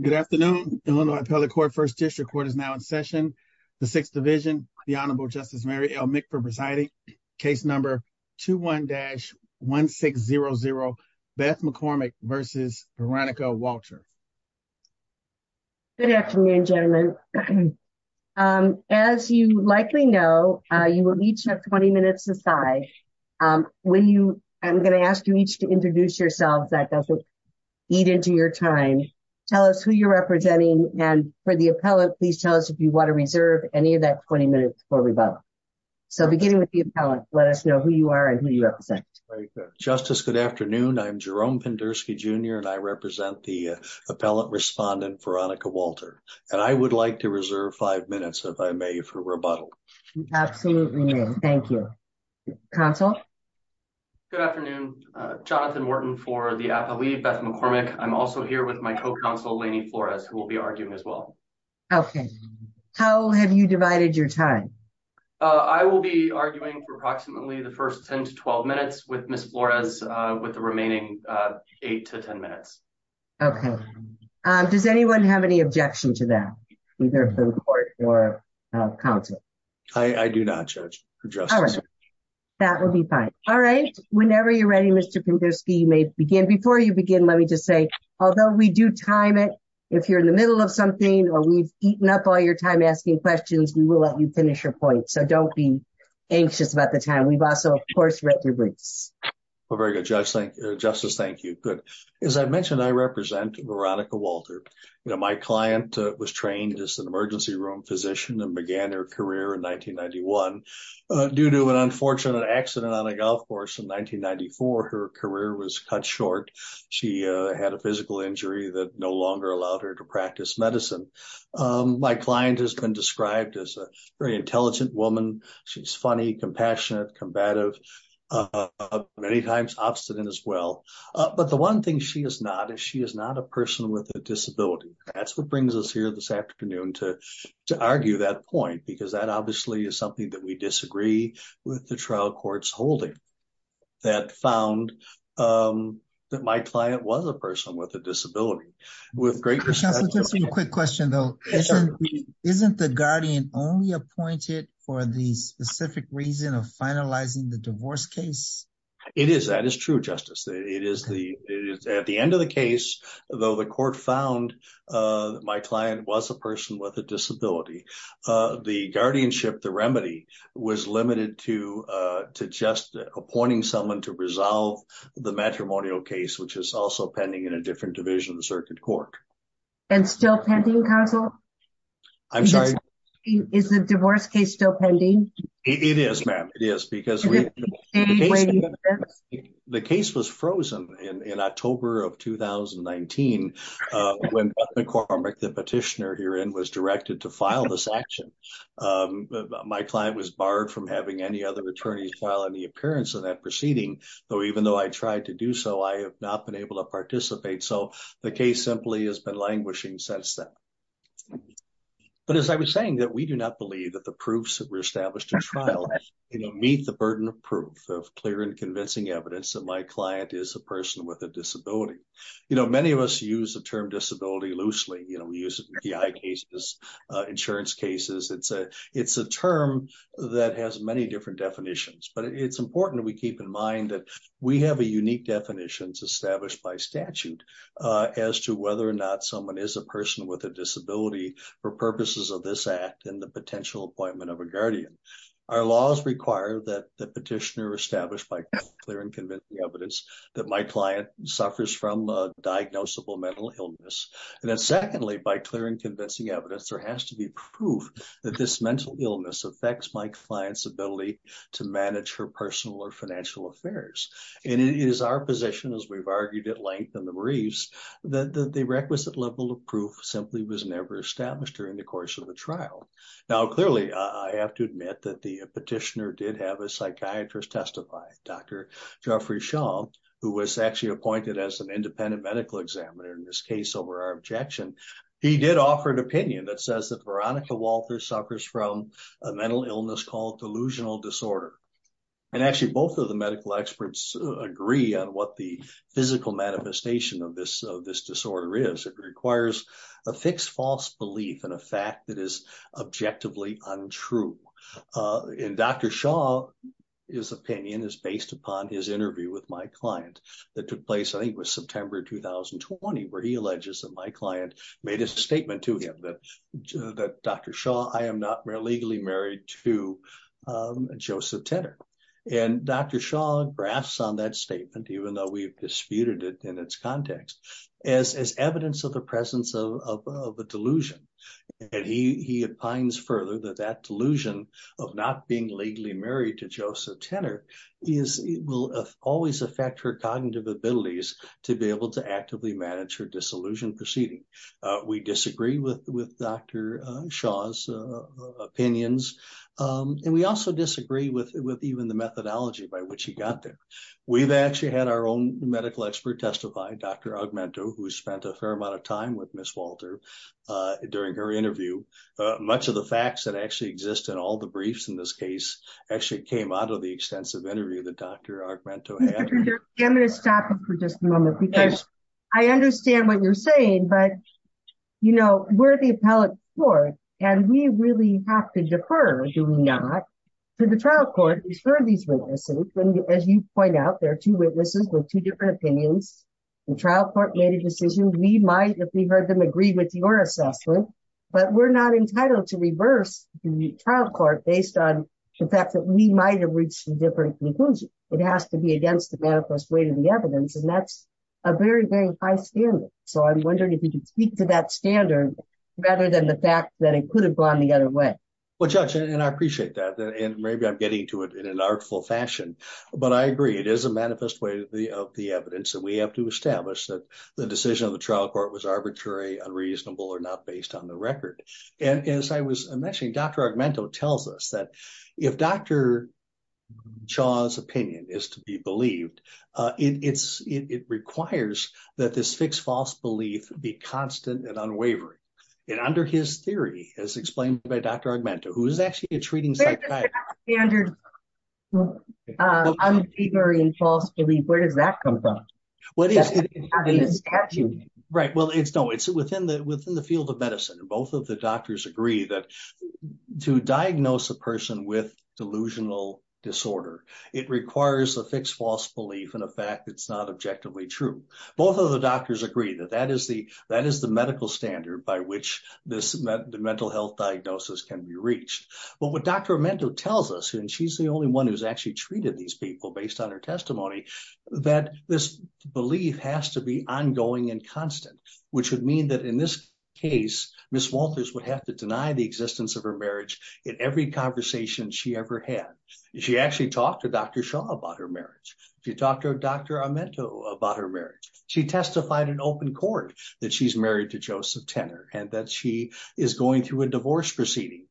Good afternoon. The first district court is now in session. The Sixth Division, the Honorable Justice Mary L. McPherson presiding, case number 21-1600, Beth McCormack v. Veronica Walter. Good afternoon, gentlemen. As you likely know, you will each have 20 minutes aside. I'm going to ask you each to introduce yourselves. That doesn't eat into your time. Tell us who you're representing. And for the appellant, please tell us if you want to reserve any of that 20 minutes for rebuttal. So beginning with the appellant, let us know who you are and who you represent. Very good. Justice, good afternoon. I'm Jerome Penderski Jr. And I represent the appellant respondent, Veronica Walter. And I would like to reserve five minutes, if I may, for rebuttal. Absolutely. Thank you. Counsel? Good afternoon. Jonathan Morton for the appellee, Beth McCormack. I'm also here with my co-counsel, Lainey Flores, who will be arguing as well. Okay. How have you divided your time? I will be arguing for approximately the first 10 to 12 minutes with Ms. Flores, with the remaining 8 to 10 minutes. Okay. Does anyone have any objection to that, either in court or counsel? I do not, Judge. All right. That will be fine. All right. Whenever you're ready, Mr. Penderski, you may begin. Before you begin, let me just say, although we do time it, if you're in the middle of something or we've eaten up all your time asking questions, we will let you finish your point. So don't be anxious about the time. We've also, of course, read your briefs. Very good, Justice. Thank you. Good. As I mentioned, I represent Veronica Walter. My client was trained as an emergency room physician and began her career in 1991. Due to an unfortunate accident on a golf course in 1994, her career was cut short. She had a physical injury that no longer allowed her to practice medicine. My client has been described as a very intelligent woman. She's funny, compassionate, combative, many times obstinate as well. But the one thing she is not is she is not a person with a disability. That's what brings us here this afternoon to argue that point, because that obviously is something that we disagree with the trial court's holding. That found that my client was a person with a disability. Just a quick question, though. Isn't the guardian only appointed for the specific reason of finalizing the divorce case? It is. That is true, Justice. It is the at the end of the case, though. The court found my client was a person with a disability. The guardianship, the remedy was limited to to just appointing someone to resolve the matrimonial case, which is also pending in a different division of the circuit court. And still pending, counsel? I'm sorry. Is the divorce case still pending? It is, ma'am. It is because the case was frozen in October of 2019 when McCormick, the petitioner herein, was directed to file this action. My client was barred from having any other attorneys file any appearance in that proceeding. Though even though I tried to do so, I have not been able to participate. So the case simply has been languishing since then. But as I was saying that we do not believe that the proofs that were established in trial meet the burden of proof, of clear and convincing evidence that my client is a person with a disability. You know, many of us use the term disability loosely. You know, we use it in PI cases, insurance cases. It's a it's a term that has many different definitions. But it's important that we keep in mind that we have a unique definitions established by statute as to whether or not someone is a person with a disability for purposes of this act and the potential appointment of a guardian. Our laws require that the petitioner established by clear and convincing evidence that my client suffers from a diagnosable mental illness. And then secondly, by clear and convincing evidence, there has to be proof that this mental illness affects my client's ability to manage her personal or financial affairs. And it is our position, as we've argued at length in the briefs, that the requisite level of proof simply was never established during the course of the trial. Now, clearly, I have to admit that the petitioner did have a psychiatrist testify, Dr. Jeffrey Shaw, who was actually appointed as an independent medical examiner in this case over our objection. He did offer an opinion that says that Veronica Walters suffers from a mental illness called delusional disorder. And actually, both of the medical experts agree on what the physical manifestation of this of this disorder is. It requires a fixed false belief in a fact that is objectively untrue. And Dr. Shaw, his opinion is based upon his interview with my client that took place, I think, was September 2020, where he alleges that my client made a statement to him that that Dr. And Dr. Shaw graphs on that statement, even though we've disputed it in its context, as evidence of the presence of a delusion. And he opines further that that delusion of not being legally married to Joseph Tanner is it will always affect her cognitive abilities to be able to actively manage her disillusioned proceeding. We disagree with with Dr. Shaw's opinions. And we also disagree with with even the methodology by which he got there. We've actually had our own medical expert testify, Dr. Augmento, who spent a fair amount of time with Miss Walter during her interview. Much of the facts that actually exist in all the briefs in this case actually came out of the extensive interview that Dr. I'm going to stop for just a moment because I understand what you're saying. But, you know, we're the appellate court, and we really have to defer, do we not, to the trial court for these witnesses. And as you point out, there are two witnesses with two different opinions. The trial court made a decision we might if we heard them agree with your assessment. But we're not entitled to reverse the trial court based on the fact that we might have reached a different conclusion. It has to be against the manifest way to the evidence. And that's a very, very high standard. So I'm wondering if you could speak to that standard rather than the fact that it could have gone the other way. Well, judge, and I appreciate that. And maybe I'm getting to it in an artful fashion. But I agree, it is a manifest way of the evidence that we have to establish that the decision of the trial court was arbitrary, unreasonable, or not based on the record. And as I was mentioning, Dr. Argumento tells us that if Dr. Shaw's opinion is to be believed, it requires that this fixed false belief be constant and unwavering. And under his theory, as explained by Dr. Argumento, who is actually a treating psychiatrist. But that standard of unwavering false belief, where does that come from? It's not in the statute. Right, well, it's not. It's within the field of medicine. Both of the doctors agree that to diagnose a person with delusional disorder, it requires a fixed false belief and a fact that's not objectively true. Both of the doctors agree that that is the medical standard by which the mental health diagnosis can be reached. But what Dr. Argumento tells us, and she's the only one who's actually treated these people based on her testimony, that this belief has to be ongoing and constant. Which would mean that in this case, Ms. Walters would have to deny the existence of her marriage in every conversation she ever had. She actually talked to Dr. Shaw about her marriage. She talked to Dr. Argumento about her marriage. She testified in open court that she's married to Joseph Tenor and that she is going through a divorce proceeding.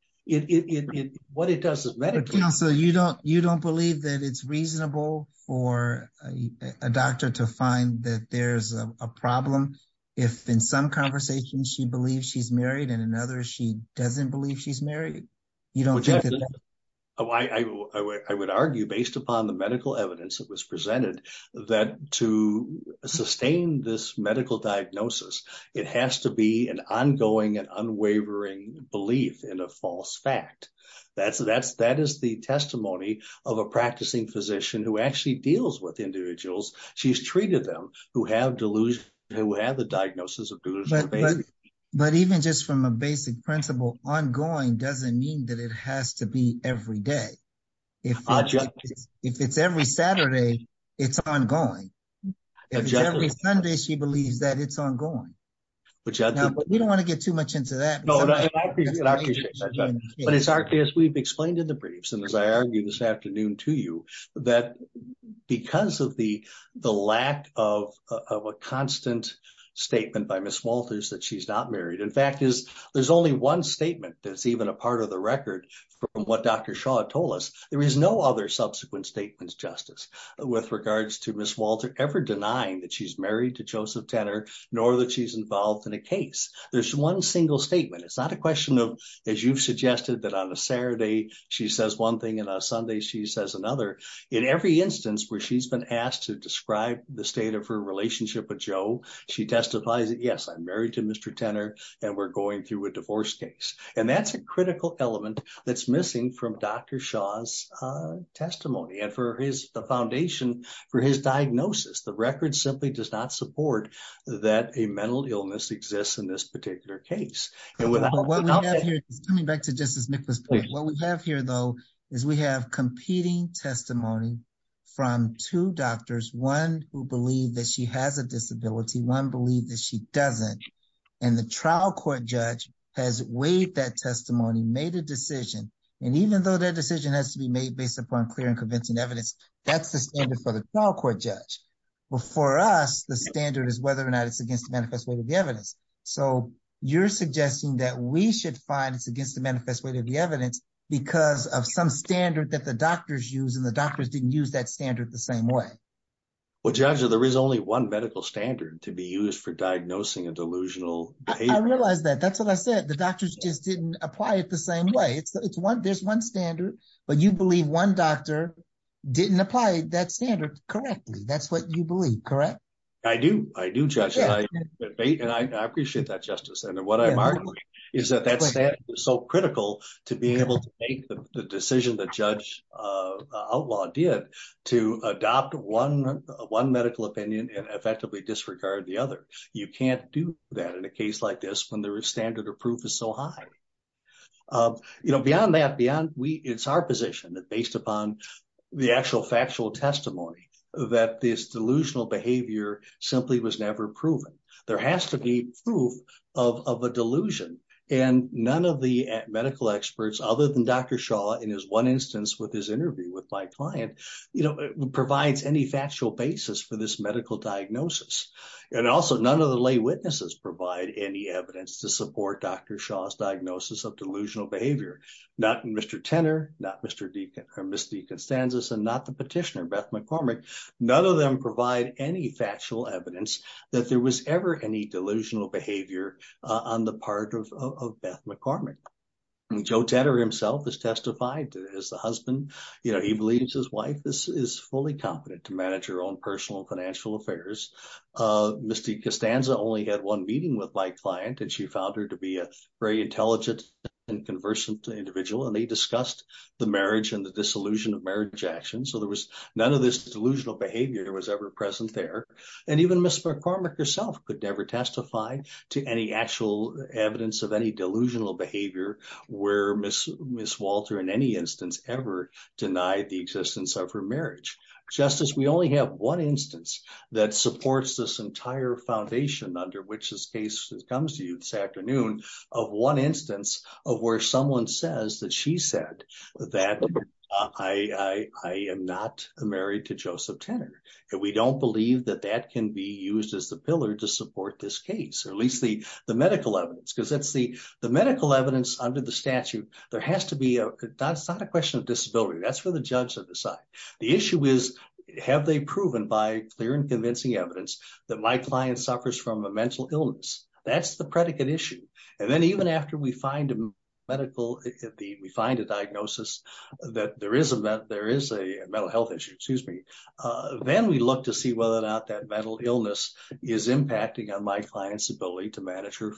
What it does is medically. So you don't believe that it's reasonable for a doctor to find that there's a problem if in some conversations she believes she's married and in others she doesn't believe she's married? I would argue, based upon the medical evidence that was presented, that to sustain this medical diagnosis, it has to be an ongoing and unwavering belief in a false fact. That is the testimony of a practicing physician who actually deals with individuals. She's treated them who have the diagnosis of delusional behavior. But even just from a basic principle, ongoing doesn't mean that it has to be every day. If it's every Saturday, it's ongoing. If it's every Sunday, she believes that it's ongoing. We don't want to get too much into that. But it's our case, we've explained in the briefs, and as I argued this afternoon to you, that because of the lack of a constant statement by Ms. Walters that she's not married, in fact, there's only one statement that's even a part of the record from what Dr. Shaw told us. There is no other subsequent statements, Justice, with regards to Ms. Walter ever denying that she's married to Joseph Tenor, nor that she's involved in a case. There's one single statement. It's not a question of, as you've suggested, that on a Saturday she says one thing and on a Sunday she says another. In every instance where she's been asked to describe the state of her relationship with Joe, she testifies that, yes, I'm married to Mr. Tenor, and we're going through a divorce case. And that's a critical element that's missing from Dr. Shaw's testimony. And for his foundation, for his diagnosis, the record simply does not support that a mental illness exists in this particular case. Coming back to Justice Nicklaus, what we have here, though, is we have competing testimony from two doctors, one who believe that she has a disability, one believe that she doesn't. And the trial court judge has weighed that testimony, made a decision. And even though that decision has to be made based upon clear and convincing evidence, that's the standard for the trial court judge. But for us, the standard is whether or not it's against the manifest weight of the evidence. So you're suggesting that we should find it's against the manifest weight of the evidence because of some standard that the doctors use, and the doctors didn't use that standard the same way. Well, Judge, there is only one medical standard to be used for diagnosing a delusional behavior. I realize that. That's what I said. The doctors just didn't apply it the same way. There's one standard, but you believe one doctor didn't apply that standard correctly. That's what you believe, correct? I do. I do, Judge. And I appreciate that, Justice. And what I'm arguing is that that standard is so critical to being able to make the decision that Judge Outlaw did to adopt one medical opinion and effectively disregard the other. You can't do that in a case like this when the standard of proof is so high. Beyond that, it's our position that based upon the actual factual testimony that this delusional behavior simply was never proven. There has to be proof of a delusion. And none of the medical experts other than Dr. Shaw, in his one instance with his interview with my client, provides any factual basis for this medical diagnosis. And also, none of the lay witnesses provide any evidence to support Dr. Shaw's diagnosis of delusional behavior. Not Mr. Tenner, not Ms. DeConstanza, and not the petitioner, Beth McCormick. None of them provide any factual evidence that there was ever any delusional behavior on the part of Beth McCormick. Joe Tenner himself has testified as the husband. You know, he believes his wife is fully competent to manage her own personal financial affairs. Ms. DeConstanza only had one meeting with my client, and she found her to be a very intelligent and conversant individual. And they discussed the marriage and the disillusion of marriage action. So there was none of this delusional behavior that was ever present there. And even Ms. McCormick herself could never testify to any actual evidence of any delusional behavior where Ms. Walter in any instance ever denied the existence of her marriage. Justice, we only have one instance that supports this entire foundation under which this case comes to you this afternoon of one instance of where someone says that she said that I am not married to Joseph Tenner. And we don't believe that that can be used as the pillar to support this case, or at least the medical evidence. Because that's the medical evidence under the statute. There has to be a – it's not a question of disability. That's for the judge to decide. The issue is have they proven by clear and convincing evidence that my client suffers from a mental illness. That's the predicate issue. And then even after we find a medical – we find a diagnosis that there is a mental health issue, then we look to see whether or not that mental illness is impacting on my client's ability to manage her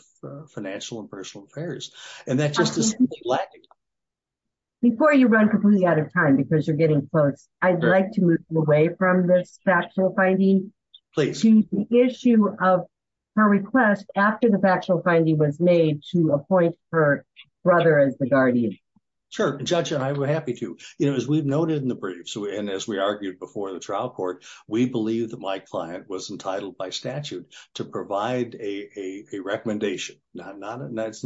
financial and personal affairs. And that's just a simple fact. Before you run completely out of time because you're getting close, I'd like to move away from this factual finding. Please. To the issue of her request after the factual finding was made to appoint her brother as the guardian. Sure. Judge, I would be happy to. You know, as we've noted in the briefs and as we argued before the trial court, we believe that my client was entitled by statute to provide a recommendation. It's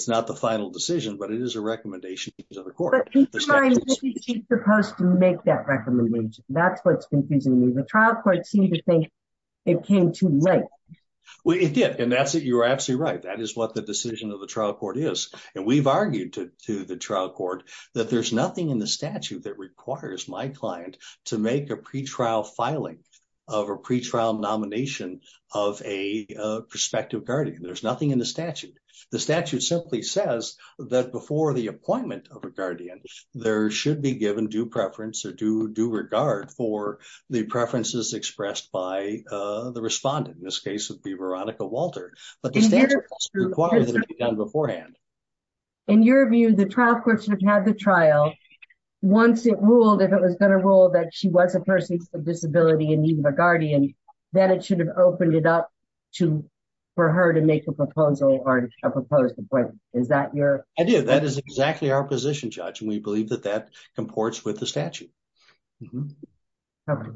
not the final decision, but it is a recommendation to the court. But keep in mind, she's supposed to make that recommendation. That's what's confusing me. The trial court seemed to think it came too late. Well, it did. And that's it. You're absolutely right. That is what the decision of the trial court is. And we've argued to the trial court that there's nothing in the statute that requires my client to make a pretrial filing of a pretrial nomination of a prospective guardian. There's nothing in the statute. The statute simply says that before the appointment of a guardian, there should be given due preference or due regard for the preferences expressed by the respondent. In this case, it would be Veronica Walter. But the statute requires it to be done beforehand. In your view, the trial court should have had the trial. Once it ruled, if it was going to rule that she was a person with a disability in need of a guardian, then it should have opened it up for her to make a proposal or a proposed appointment. Is that your... I do. That is exactly our position, Judge. And we believe that that comports with the statute. But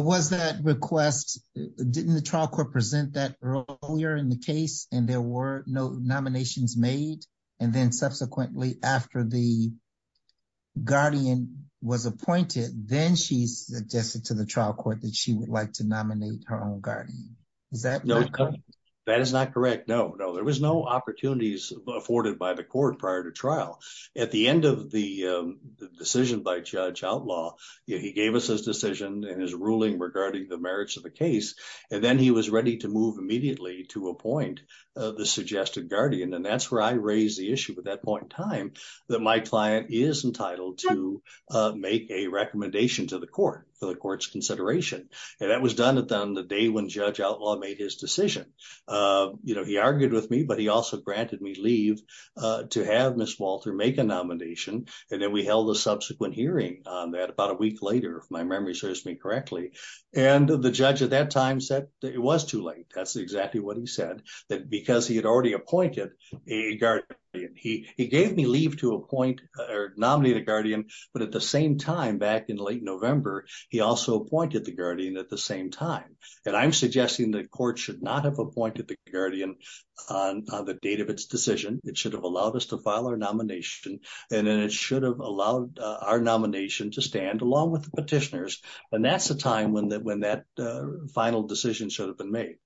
was that request... Didn't the trial court present that earlier in the case and there were no nominations made? And then subsequently, after the guardian was appointed, then she suggested to the trial court that she would like to nominate her own guardian. Is that correct? That is not correct. No, no. There was no opportunities afforded by the court prior to trial. At the end of the decision by Judge Outlaw, he gave us his decision and his ruling regarding the merits of the case. And then he was ready to move immediately to appoint the suggested guardian. And that's where I raised the issue at that point in time that my client is entitled to make a recommendation to the court for the court's consideration. And that was done on the day when Judge Outlaw made his decision. He argued with me, but he also granted me leave to have Ms. Walter make a nomination. And then we held a subsequent hearing on that about a week later, if my memory serves me correctly. And the judge at that time said that it was too late. That's exactly what he said, that because he had already appointed a guardian. He gave me leave to appoint or nominate a guardian. But at the same time, back in late November, he also appointed the guardian at the same time. And I'm suggesting the court should not have appointed the guardian on the date of its decision. It should have allowed us to file our nomination and then it should have allowed our nomination to stand along with the petitioners. And that's the time when that when that final decision should have been made.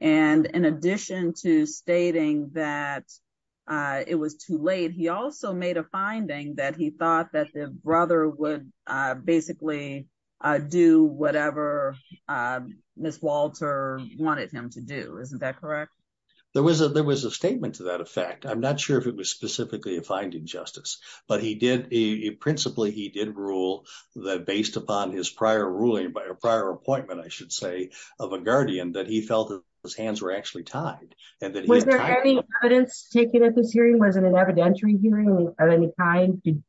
And in addition to stating that it was too late, he also made a finding that he thought that the brother would basically do whatever Ms. Walter wanted him to do. Isn't that correct? There was a there was a statement to that effect. I'm not sure if it was specifically a finding justice, but he did. Principally, he did rule that based upon his prior ruling by a prior appointment, I should say, of a guardian that he felt his hands were actually tied. Was there any evidence taken at this hearing? Was it an evidentiary hearing of any kind? Did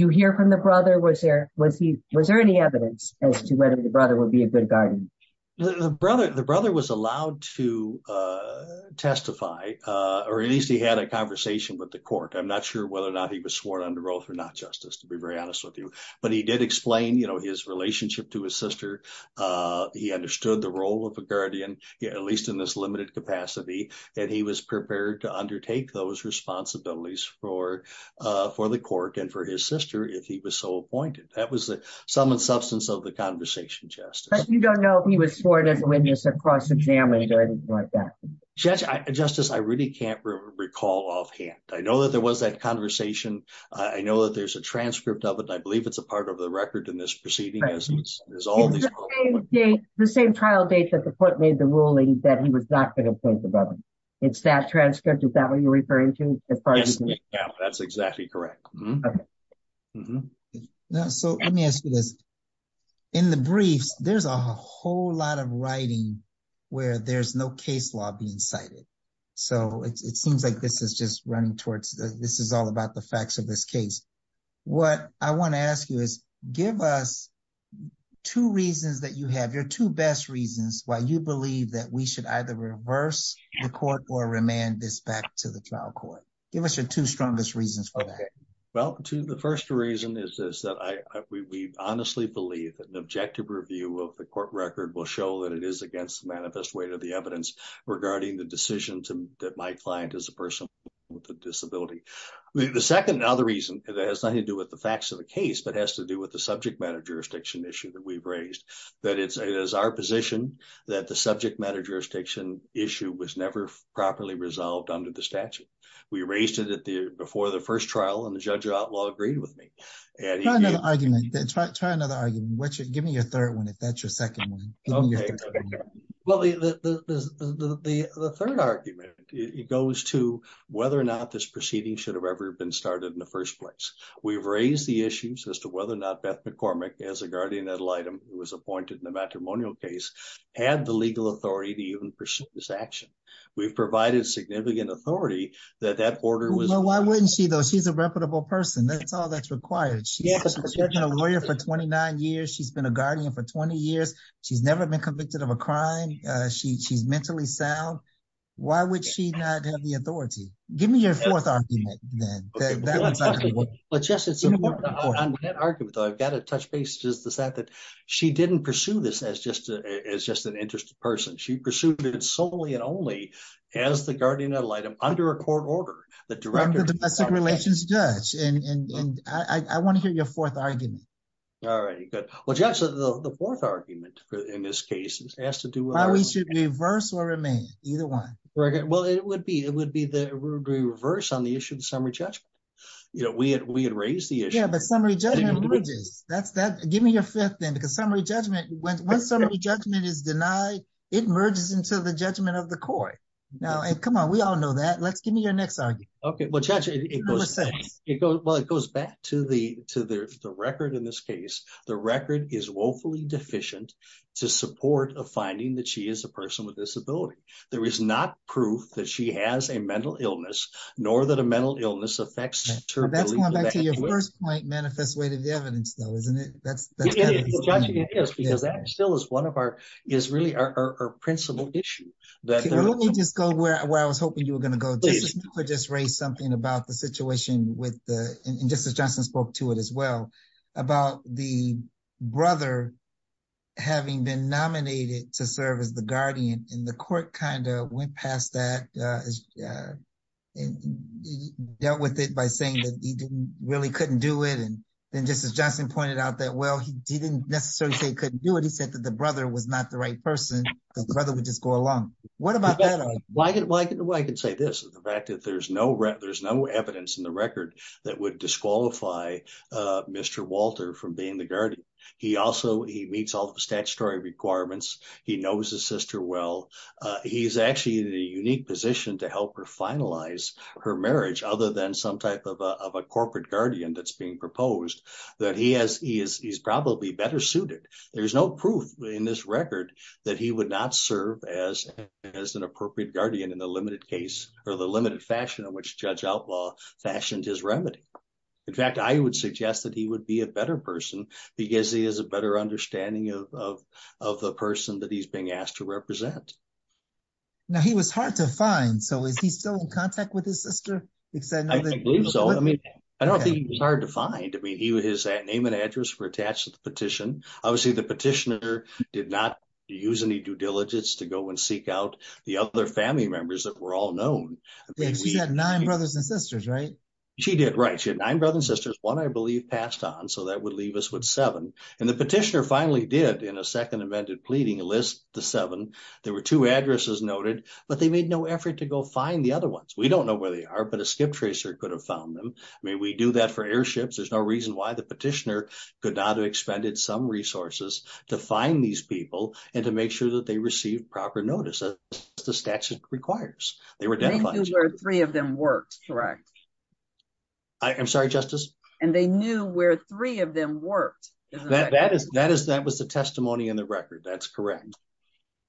you hear from the brother? Was there was he was there any evidence as to whether the brother would be a good guardian? The brother, the brother was allowed to testify or at least he had a conversation with the court. I'm not sure whether or not he was sworn under oath or not, justice, to be very honest with you. But he did explain his relationship to his sister. He understood the role of a guardian, at least in this limited capacity. And he was prepared to undertake those responsibilities for for the court and for his sister if he was so appointed. That was the sum and substance of the conversation. You don't know if he was sworn as a witness or cross examined or anything like that. Justice, I really can't recall offhand. I know that there was that conversation. I know that there's a transcript of it. I believe it's a part of the record in this proceeding. The same trial date that the court made the ruling that he was not going to appoint the brother. It's that transcript. Is that what you're referring to? That's exactly correct. So let me ask you this. In the briefs, there's a whole lot of writing where there's no case law being cited. So it seems like this is just running towards this is all about the facts of this case. What I want to ask you is give us two reasons that you have your two best reasons why you believe that we should either reverse the court or remand this back to the trial court. Give us your two strongest reasons for that. Well, the first reason is that we honestly believe that an objective review of the court record will show that it is against the manifest weight of the evidence regarding the decision that my client is a person with a disability. The second and other reason that has nothing to do with the facts of the case, but has to do with the subject matter jurisdiction issue that we've raised, that it is our position that the subject matter jurisdiction issue was never properly resolved under the statute. We raised it before the first trial, and the judge of outlaw agreed with me. Try another argument. Give me your third one, if that's your second one. Well, the third argument goes to whether or not this proceeding should have ever been started in the first place. We've raised the issues as to whether or not Beth McCormick, as a guardian ad litem who was appointed in the matrimonial case, had the legal authority to even pursue this action. We've provided significant authority that that order was... Well, why wouldn't she, though? She's a reputable person. That's all that's required. She's been a lawyer for 29 years. She's been a guardian for 20 years. She's never been convicted of a crime. She's mentally sound. Why would she not have the authority? Give me your fourth argument, then. But, Judge, it's an important argument, though. I've got to touch base with the fact that she didn't pursue this as just an interested person. She pursued it solely and only as the guardian ad litem under a court order. I'm the domestic relations judge, and I want to hear your fourth argument. All right, good. Well, Judge, the fourth argument in this case has to do with... Why we should reverse or remain. Either one. Well, it would be the reverse on the issue of the summary judgment. We had raised the issue. Yeah, but summary judgment merges. Give me your fifth, then, because summary judgment... When summary judgment is denied, it merges into the judgment of the court. Now, come on, we all know that. Let's give me your next argument. Okay, well, Judge, it goes back to the record in this case. The record is woefully deficient to support a finding that she is a person with a disability. There is not proof that she has a mental illness, nor that a mental illness affects her... That's going back to your first point, manifest weight of the evidence, though, isn't it? It is, because that still is really our principal issue. Let me just go where I was hoping you were going to go. Justice Cooper just raised something about the situation, and Justice Johnson spoke to it as well, about the brother having been nominated to serve as the guardian. And the court kind of went past that and dealt with it by saying that he really couldn't do it. And then, just as Johnson pointed out, that, well, he didn't necessarily say he couldn't do it. He said that the brother was not the right person, that the brother would just go along. What about that? Well, I can say this. The fact that there's no evidence in the record that would disqualify Mr. Walter from being the guardian. He also meets all the statutory requirements. He knows his sister well. He's actually in a unique position to help her finalize her marriage, other than some type of a corporate guardian that's being proposed, that he's probably better suited. There's no proof in this record that he would not serve as an appropriate guardian in the limited case, or the limited fashion in which Judge Outlaw fashioned his remedy. In fact, I would suggest that he would be a better person, because he has a better understanding of the person that he's being asked to represent. Now, he was hard to find. So is he still in contact with his sister? I don't think he was hard to find. I mean, his name and address were attached to the petition. Obviously, the petitioner did not use any due diligence to go and seek out the other family members that were all known. She had nine brothers and sisters, right? She did, right. She had nine brothers and sisters. One, I believe, passed on, so that would leave us with seven. And the petitioner finally did, in a second amended pleading, list the seven. There were two addresses noted, but they made no effort to go find the other ones. We don't know where they are, but a skip tracer could have found them. I mean, we do that for airships. There's no reason why the petitioner could not have expended some resources to find these people and to make sure that they received proper notice, as the statute requires. They were dead bodies. They knew where three of them worked, correct? I'm sorry, Justice? And they knew where three of them worked. That was the testimony in the record. That's correct.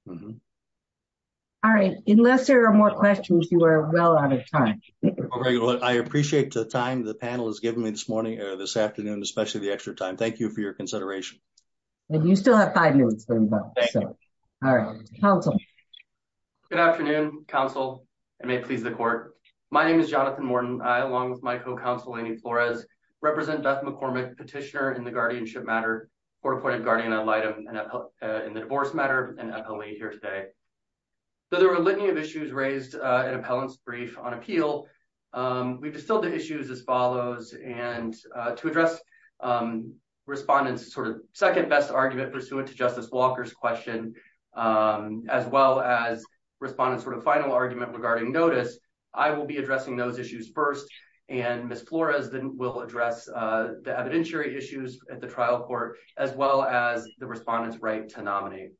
All right. Unless there are more questions, you are well out of time. I appreciate the time the panel has given me this morning or this afternoon, especially the extra time. Thank you for your consideration. And you still have five minutes. All right. Counsel. Good afternoon, counsel. It may please the court. My name is Jonathan Morton. I, along with my co-counsel, Amy Flores, represent Beth McCormick, petitioner in the guardianship matter, court-appointed guardian ad litem in the divorce matter, and appellee here today. There were a litany of issues raised in appellant's brief on appeal. We've distilled the issues as follows. And to address respondent's sort of second-best argument pursuant to Justice Walker's question, as well as respondent's sort of final argument regarding notice, I will be addressing those issues first, and Ms. Flores will address the evidentiary issues at the trial court, as well as the respondent's right to nominate.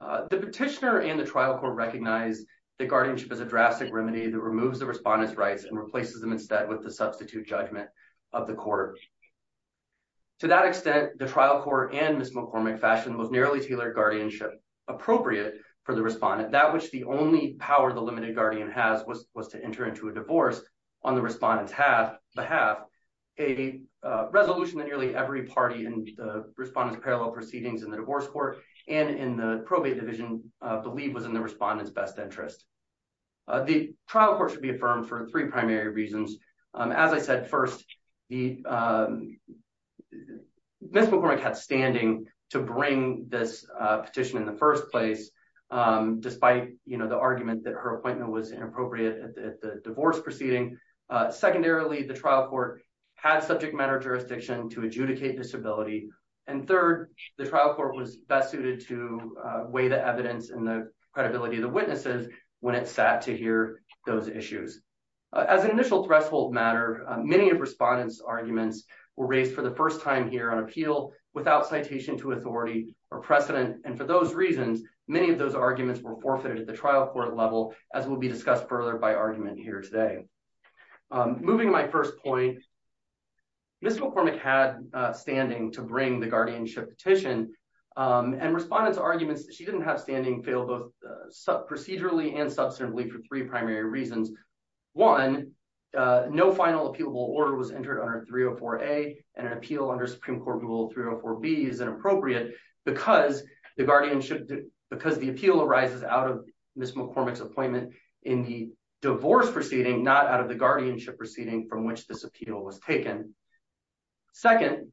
The petitioner and the trial court recognize that guardianship is a drastic remedy that removes the respondent's rights and replaces them instead with the substitute judgment of the court. To that extent, the trial court and Ms. McCormick fashioned the most narrowly tailored guardianship appropriate for the respondent, that which the only power the limited guardian has was to enter into a divorce on the respondent's behalf, a resolution that nearly every party in the respondent's parallel proceedings in the divorce court and in the probate division believe was in the respondent's best interest. The trial court should be affirmed for three primary reasons. As I said, first, Ms. McCormick had standing to bring this petition in the first place, despite the argument that her appointment was inappropriate at the divorce proceeding. Secondarily, the trial court had subject matter jurisdiction to adjudicate disability. And third, the trial court was best suited to weigh the evidence and the credibility of the witnesses when it sat to hear those issues. As an initial threshold matter, many of respondents' arguments were raised for the first time here on appeal without citation to authority or precedent. And for those reasons, many of those arguments were forfeited at the trial court level, as will be discussed further by argument here today. Moving to my first point, Ms. McCormick had standing to bring the guardianship petition, and respondents' arguments that she didn't have standing failed both procedurally and substantively for three primary reasons. One, no final appealable order was entered under 304A, and an appeal under Supreme Court Rule 304B is inappropriate because the guardianship, because the appeal arises out of Ms. McCormick's appointment in the divorce proceeding, not out of the guardianship proceeding from which this appeal was taken. Second,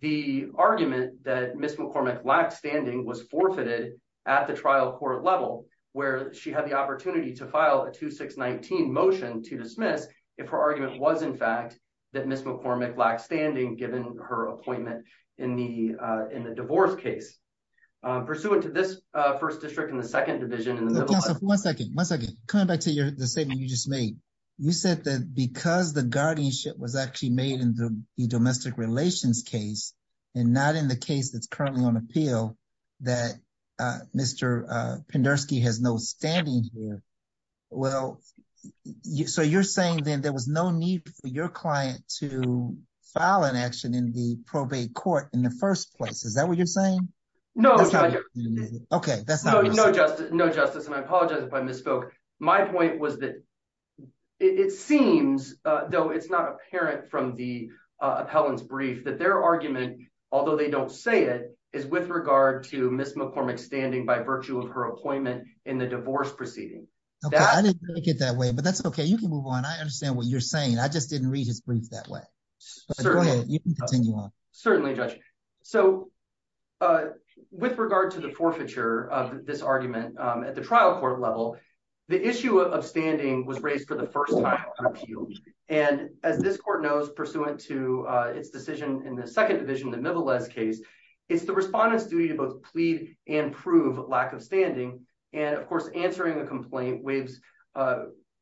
the argument that Ms. McCormick lacked standing was forfeited at the trial court level, where she had the opportunity to file a 2619 motion to dismiss if her argument was, in fact, that Ms. McCormick lacked standing, given her appointment in the divorce case. Pursuant to this first district and the second division in the middle of… One second. One second. Coming back to the statement you just made, you said that because the guardianship was actually made in the domestic relations case and not in the case that's currently on appeal, that Mr. Penderski has no standing here. Well, so you're saying then there was no need for your client to file an action in the probate court in the first place. Is that what you're saying? No. Okay. That's not what you're saying. No, Justice, and I apologize if I misspoke. My point was that it seems, though it's not apparent from the appellant's brief, that their argument, although they don't say it, is with regard to Ms. McCormick's standing by virtue of her appointment in the divorce proceeding. Okay. I didn't make it that way, but that's okay. You can move on. I understand what you're saying. I just didn't read his brief that way. Certainly. Go ahead. You can continue on. Certainly, Judge. So with regard to the forfeiture of this argument at the trial court level, the issue of standing was raised for the first time on appeal. And as this court knows, pursuant to its decision in the Second Division, the Mivelez case, it's the respondent's duty to both plead and prove lack of standing. And, of course, answering a complaint waives an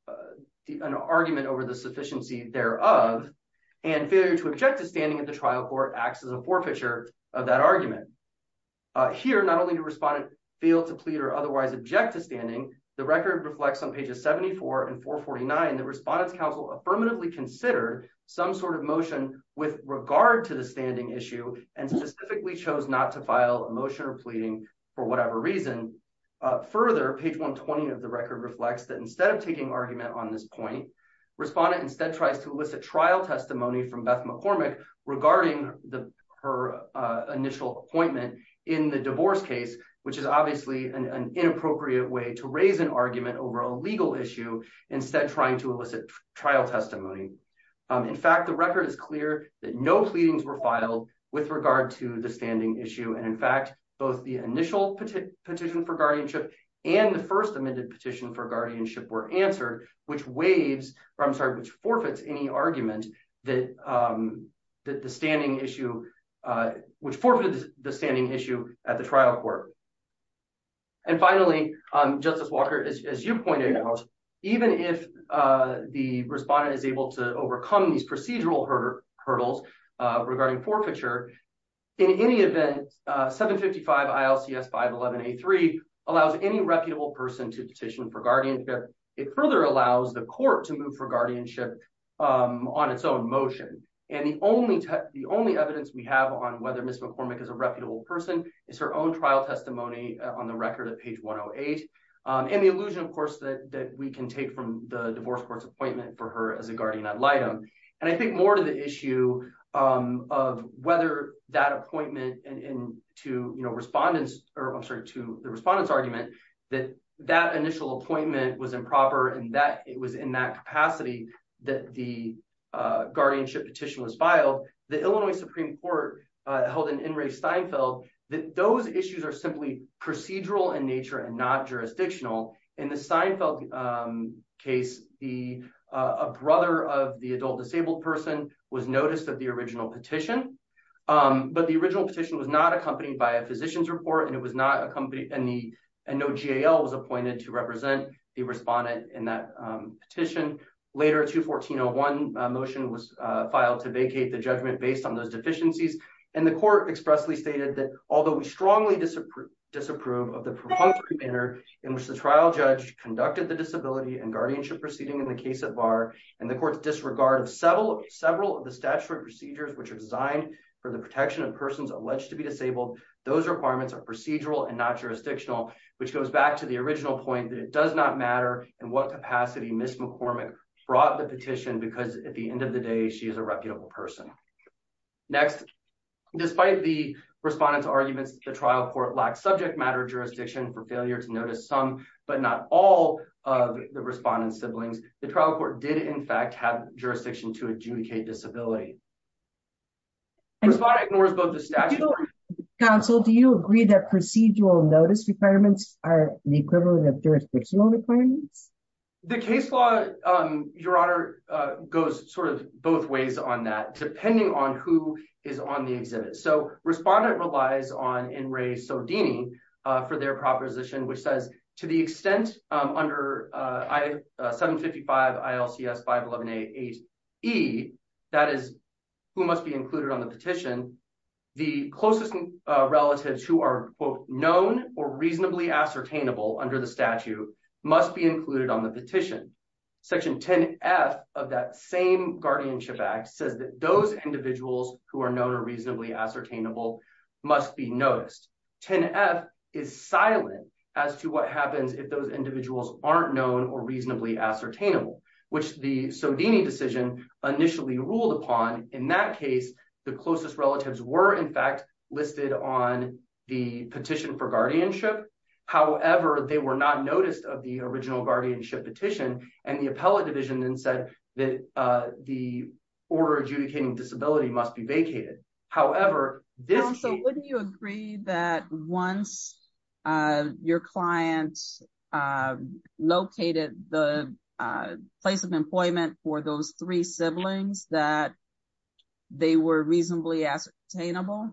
argument over the sufficiency thereof. And failure to object to standing at the trial court acts as a forfeiture of that argument. Here, not only did the respondent fail to plead or otherwise object to standing, the record reflects on pages 74 and 449, the respondent's counsel affirmatively considered some sort of motion with regard to the standing issue and specifically chose not to file a motion or pleading for whatever reason. Further, page 120 of the record reflects that instead of taking argument on this point, respondent instead tries to elicit trial testimony from Beth McCormick regarding her initial appointment in the divorce case, which is obviously an inappropriate way to raise an argument over a legal issue, instead trying to elicit trial testimony. In fact, the record is clear that no pleadings were filed with regard to the standing issue. And, in fact, both the initial petition for guardianship and the first amended petition for guardianship were answered, which forfeits any argument that the standing issue, which forfeited the standing issue at the trial court. And finally, Justice Walker, as you pointed out, even if the respondent is able to overcome these procedural hurdles regarding forfeiture, in any event, 755 ILCS 511A3 allows any reputable person to petition for guardianship. It further allows the court to move for guardianship on its own motion. And the only evidence we have on whether Ms. McCormick is a reputable person is her own trial testimony on the record at page 108 and the allusion, of course, that we can take from the divorce court's appointment for her as a guardian ad litem. And I think more to the issue of whether that appointment to the respondent's argument that that initial appointment was improper and that it was in that capacity that the guardianship petition was filed, the Illinois Supreme Court held in In re Steinfeld that those issues are simply procedural in nature and not jurisdictional. In the Steinfeld case, a brother of the adult disabled person was noticed at the original petition, but the original petition was not accompanied by a physician's report and no GAL was appointed to represent the respondent in that petition. Later, a 214-01 motion was filed to vacate the judgment based on those deficiencies. And the court expressly stated that although we strongly disapprove of the propunctory manner in which the trial judge conducted the disability and guardianship proceeding in the case at VAR and the court's disregard of several of the statutory procedures which are designed for the protection of persons alleged to be disabled, those requirements are procedural and not jurisdictional, which goes back to the original point that it does not matter in what capacity Ms. McCormick brought the petition because at the end of the day, she is a reputable person. Next, despite the respondent's arguments that the trial court lacked subject matter jurisdiction for failure to notice some, but not all, of the respondent's siblings, the trial court did in fact have jurisdiction to adjudicate disability. The respondent ignores both the statute... Counsel, do you agree that procedural notice requirements are the equivalent of jurisdictional requirements? The case law, Your Honor, goes sort of both ways on that, depending on who is on the exhibit. So respondent relies on N. Ray Sardini for their proposition, which says to the extent under 755 ILCS 511A-8E, that is, who must be included on the petition, the closest relatives who are known or reasonably ascertainable under the statute must be included on the petition. Section 10-F of that same guardianship act says that those individuals who are known or reasonably ascertainable must be noticed. 10-F is silent as to what happens if those individuals aren't known or reasonably ascertainable, which the Sardini decision initially ruled upon. In that case, the closest relatives were in fact listed on the petition for guardianship. However, they were not noticed of the original guardianship petition, and the appellate division then said that the order adjudicating disability must be vacated. Counsel, wouldn't you agree that once your client located the place of employment for those three siblings that they were reasonably ascertainable?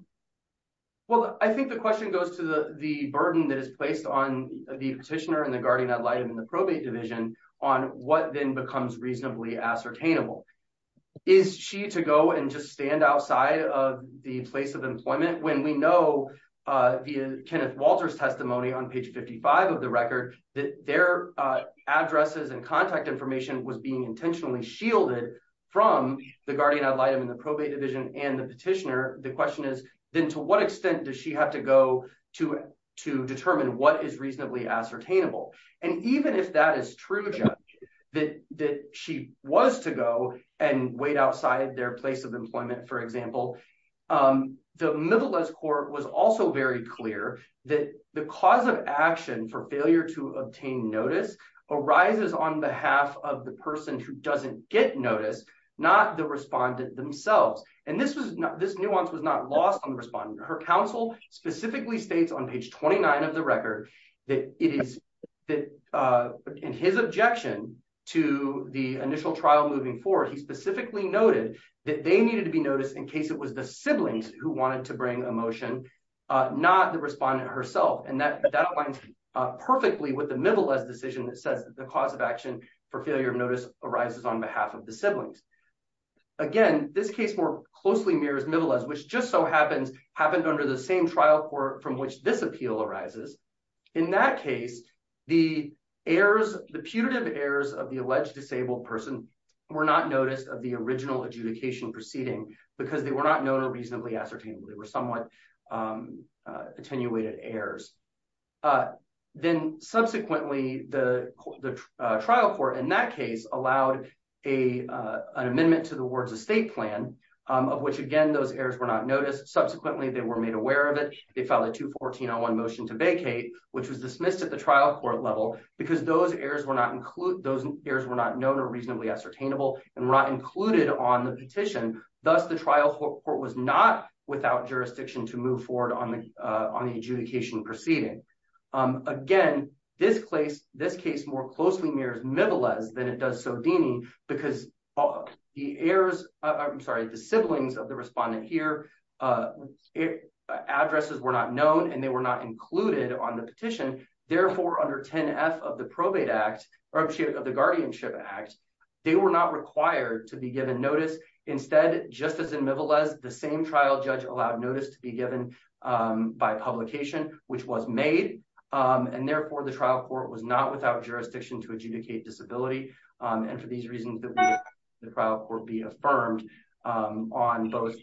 Well, I think the question goes to the burden that is placed on the petitioner and the guardian ad litem and the probate division on what then becomes reasonably ascertainable. Is she to go and just stand outside of the place of employment when we know, via Kenneth Walter's testimony on page 55 of the record, that their addresses and contact information was being intentionally shielded from the guardian ad litem and the probate division and the petitioner? The question is, then to what extent does she have to go to determine what is reasonably ascertainable? And even if that is true, Judge, that she was to go and wait outside their place of employment, for example, the Middle East Court was also very clear that the cause of action for failure to obtain notice arises on behalf of the person who doesn't get notice, not the respondent themselves. And this nuance was not lost on the respondent. Her counsel specifically states on page 29 of the record that it is that in his objection to the initial trial moving forward, he specifically noted that they needed to be noticed in case it was the siblings who wanted to bring a motion, not the respondent herself. And that that aligns perfectly with the Middle East decision that says the cause of action for failure of notice arises on behalf of the siblings. Again, this case more closely mirrors Middle East, which just so happens happened under the same trial court from which this appeal arises. In that case, the errors, the putative errors of the alleged disabled person were not noticed of the original adjudication proceeding because they were not known or reasonably ascertainable. They were somewhat attenuated errors. Then subsequently, the trial court in that case allowed an amendment to the ward's estate plan of which, again, those errors were not noticed. Subsequently, they were made aware of it. They filed a 214-01 motion to vacate, which was dismissed at the trial court level because those errors were not included. Those errors were not known or reasonably ascertainable and were not included on the petition. Thus, the trial court was not without jurisdiction to move forward on the adjudication proceeding. Again, this case more closely mirrors Mibelez than it does Sodini because the siblings of the respondent here, addresses were not known and they were not included on the petition. Therefore, under 10F of the Guardianship Act, they were not required to be given notice. Instead, just as in Mibelez, the same trial judge allowed notice to be given by publication, which was made. Therefore, the trial court was not without jurisdiction to adjudicate disability. For these reasons, the trial court be affirmed on both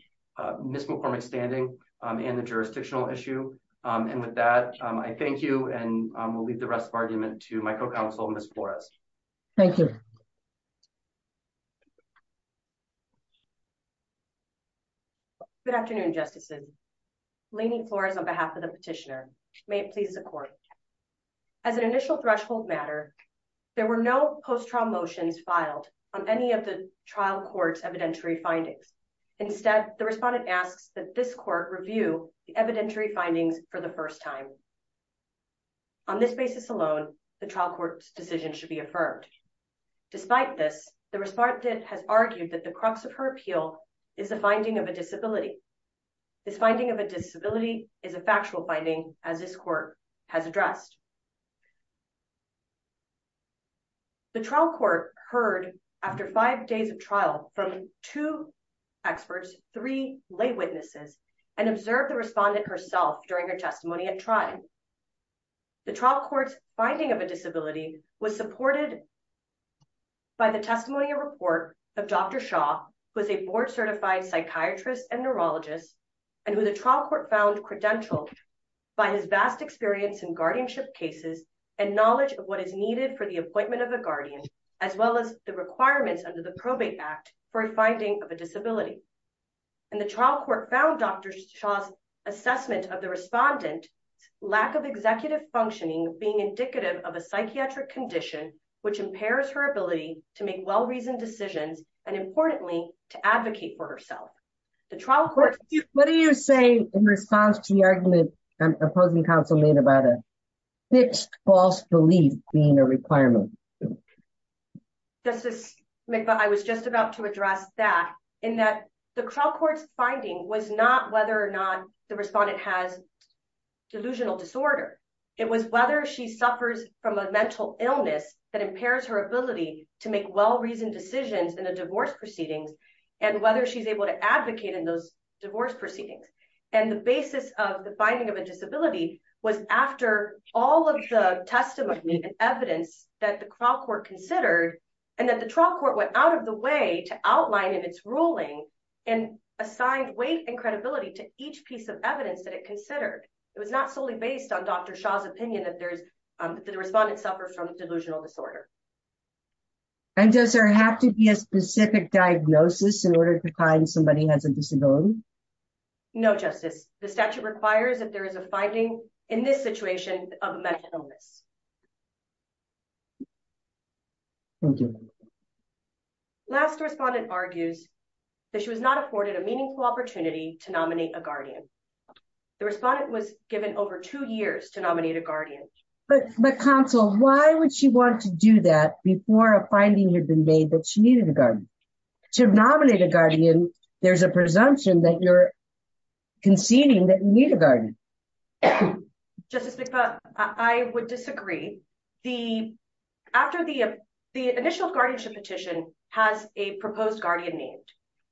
Ms. McCormick's standing and the jurisdictional issue. With that, I thank you and will leave the rest of the argument to my co-counsel, Ms. Flores. Thank you. Good afternoon, Justices. Lainey Flores on behalf of the petitioner. May it please the Court. As an initial threshold matter, there were no post-trial motions filed on any of the trial court's evidentiary findings. Instead, the respondent asks that this court review the evidentiary findings for the first time. On this basis alone, the trial court's decision should be affirmed. Despite this, the respondent has argued that the crux of her appeal is the finding of a disability. This finding of a disability is a factual finding, as this court has addressed. The trial court heard, after five days of trial, from two experts, three lay witnesses, and observed the respondent herself during her testimony at trial. The trial court's finding of a disability was supported by the testimony and report of Dr. Shaw, who is a board-certified psychiatrist and neurologist, and who the trial court found credentialed by his vast experience in guardianship cases and knowledge of what is needed for the appointment of a guardian, as well as the requirements under the Probate Act for a finding of a disability. And the trial court found Dr. Shaw's assessment of the respondent's lack of executive functioning being indicative of a psychiatric condition, which impairs her ability to make well-reasoned decisions and, importantly, to advocate for herself. What do you say in response to the argument opposing counsel made about a fixed false belief being a requirement? Justice McBeth, I was just about to address that, in that the trial court's finding was not whether or not the respondent has delusional disorder. It was whether she suffers from a mental illness that impairs her ability to make well-reasoned decisions in the divorce proceedings, and whether she's able to advocate in those divorce proceedings. And the basis of the finding of a disability was after all of the testimony and evidence that the trial court considered, and that the trial court went out of the way to outline in its ruling and assigned weight and credibility to each piece of evidence that it considered. It was not solely based on Dr. Shaw's opinion that the respondent suffers from delusional disorder. And does there have to be a specific diagnosis in order to find somebody has a disability? No, Justice. The statute requires that there is a finding in this situation of a mental illness. Thank you. The last respondent argues that she was not afforded a meaningful opportunity to nominate a guardian. The respondent was given over two years to nominate a guardian. But counsel, why would she want to do that before a finding had been made that she needed a guardian? To nominate a guardian, there's a presumption that you're conceding that you need a guardian. Justice McFarland, I would disagree. The initial guardianship petition has a proposed guardian named.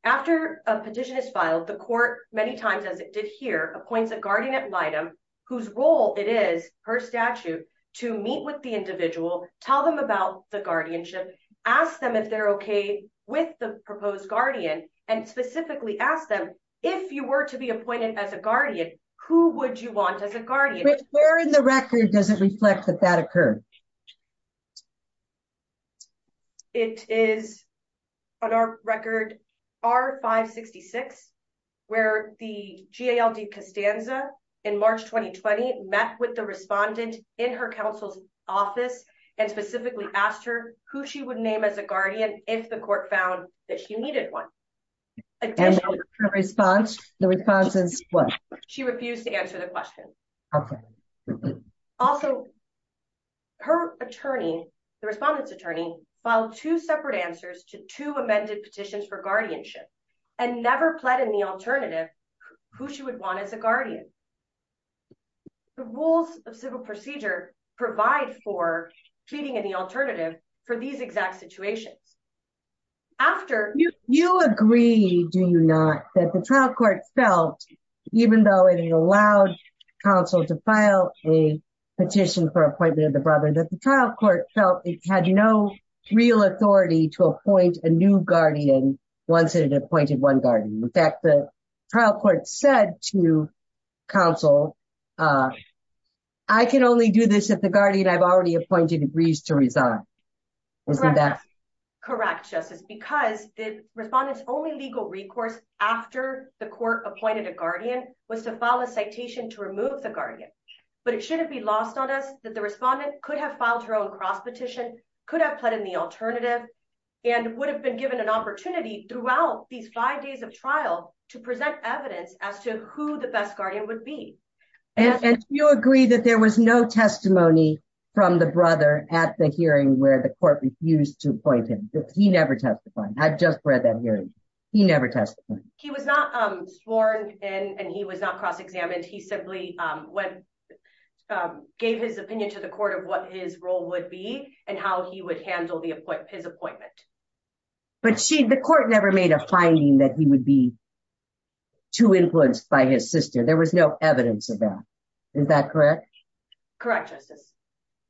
After a petition is filed, the court, many times as it did here, appoints a guardianate item, whose role it is, per statute, to meet with the individual, tell them about the guardianship, ask them if they're okay with the proposed guardian, and specifically ask them, if you were to be appointed as a guardian, who would you want as a guardian? Where in the record does it reflect that that occurred? It is, on our record, R-566, where the GALD Costanza, in March 2020, met with the respondent in her counsel's office, and specifically asked her who she would name as a guardian, if the court found that she needed one. And the response? The response is what? She refused to answer the question. Okay. Also, her attorney, the respondent's attorney, filed two separate answers to two amended petitions for guardianship, and never pled in the alternative, who she would want as a guardian. The rules of civil procedure provide for pleading in the alternative for these exact situations. You agree, do you not, that the trial court felt, even though it allowed counsel to file a petition for appointment of the brother, that the trial court felt it had no real authority to appoint a new guardian once it had appointed one guardian. In fact, the trial court said to counsel, I can only do this if the guardian I've already appointed agrees to resign. Correct, Justice, because the respondent's only legal recourse after the court appointed a guardian was to file a citation to remove the guardian. But it shouldn't be lost on us that the respondent could have filed her own cross petition, could have pled in the alternative, and would have been given an opportunity throughout these five days of trial to present evidence as to who the best guardian would be. Do you agree that there was no testimony from the brother at the hearing where the court refused to appoint him? He never testified. I just read that hearing. He never testified. He was not sworn in and he was not cross examined. He simply gave his opinion to the court of what his role would be and how he would handle his appointment. But the court never made a finding that he would be too influenced by his sister. There was no evidence of that. Is that correct? Correct, Justice.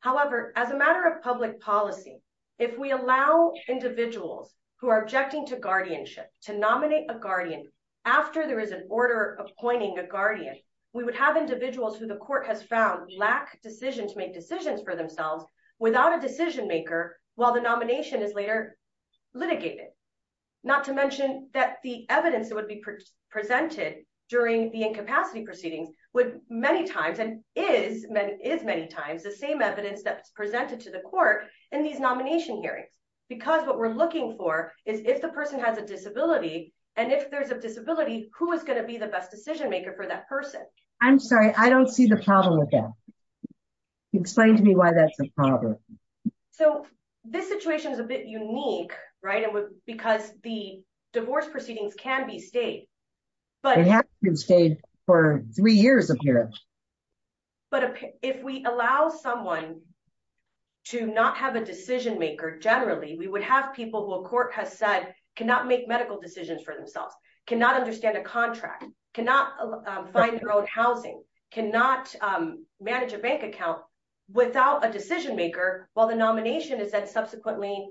However, as a matter of public policy, if we allow individuals who are objecting to guardianship to nominate a guardian after there is an order appointing a guardian, we would have individuals who the court has found lack decision to make decisions for themselves without a decision maker, while the nomination is later litigated. Not to mention that the evidence that would be presented during the incapacity proceedings would many times and is many times the same evidence that's presented to the court in these nomination hearings. Because what we're looking for is if the person has a disability, and if there's a disability, who is going to be the best decision maker for that person. I'm sorry, I don't see the problem with that. Explain to me why that's a problem. So, this situation is a bit unique, right, because the divorce proceedings can be stayed. They have to be stayed for three years, apparently. But if we allow someone to not have a decision maker, generally, we would have people who a court has said cannot make medical decisions for themselves, cannot understand a contract, cannot find their own housing, cannot manage a bank account without a decision maker, while the nomination is subsequently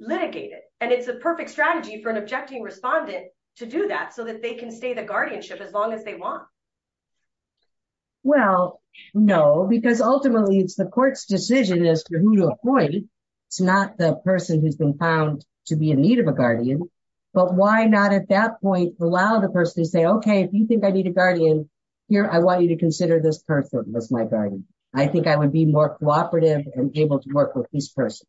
litigated. And it's a perfect strategy for an objecting respondent to do that so that they can stay the guardianship as long as they want. Well, no, because ultimately it's the court's decision as to who to appoint. It's not the person who's been found to be in need of a guardian. But why not at that point, allow the person to say, okay, if you think I need a guardian here, I want you to consider this person as my guardian. I think I would be more cooperative and able to work with this person.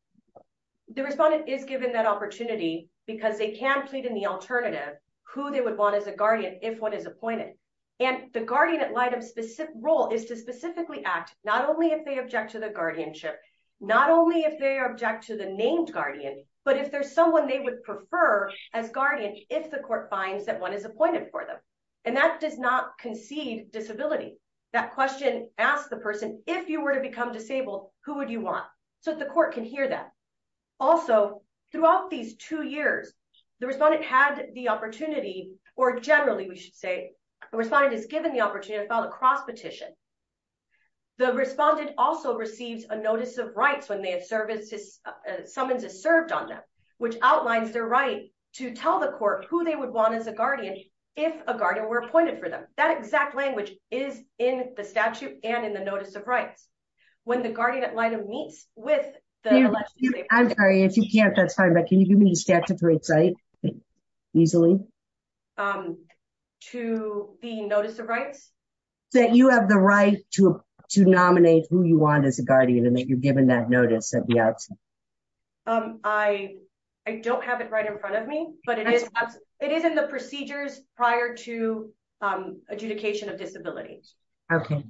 The respondent is given that opportunity because they can plead in the alternative who they would want as a guardian if one is appointed. And the guardian at light of specific role is to specifically act, not only if they object to the guardianship, not only if they object to the named guardian, but if there's someone they would prefer as guardian, if the court finds that one is appointed for them. And that does not concede disability. That question asks the person, if you were to become disabled, who would you want? So the court can hear that. Also, throughout these two years, the respondent had the opportunity, or generally we should say, the respondent is given the opportunity to file a cross petition. The respondent also receives a notice of rights when they have services, summons is served on them, which outlines their right to tell the court who they would want as a guardian, if a guardian were appointed for them. That exact language is in the statute and in the notice of rights. I'm sorry, if you can't, that's fine. But can you give me the statute of rights? To the notice of rights? That you have the right to nominate who you want as a guardian and that you've given that notice at the outset. I don't have it right in front of me, but it is in the procedures prior to adjudication of disability. Okay.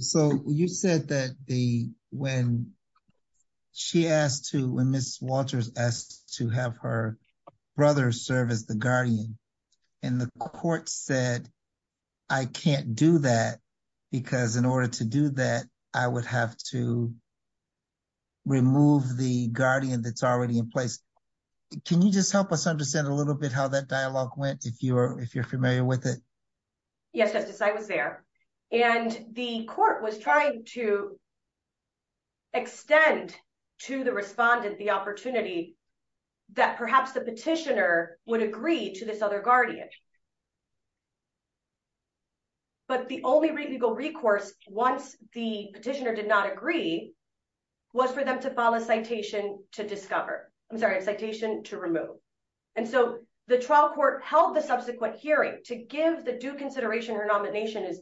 So you said that when she asked to, when Ms. Walters asked to have her brother serve as the guardian, and the court said, I can't do that, because in order to do that, I would have to remove the guardian that's already in place. Can you just help us understand a little bit how that dialogue went, if you're familiar with it? Yes, Justice, I was there. And the court was trying to extend to the respondent the opportunity that perhaps the petitioner would agree to this other guardian. But the only legal recourse, once the petitioner did not agree, was for them to file a citation to discover. I'm sorry, a citation to remove. And so the trial court held the subsequent hearing to give the due consideration her nomination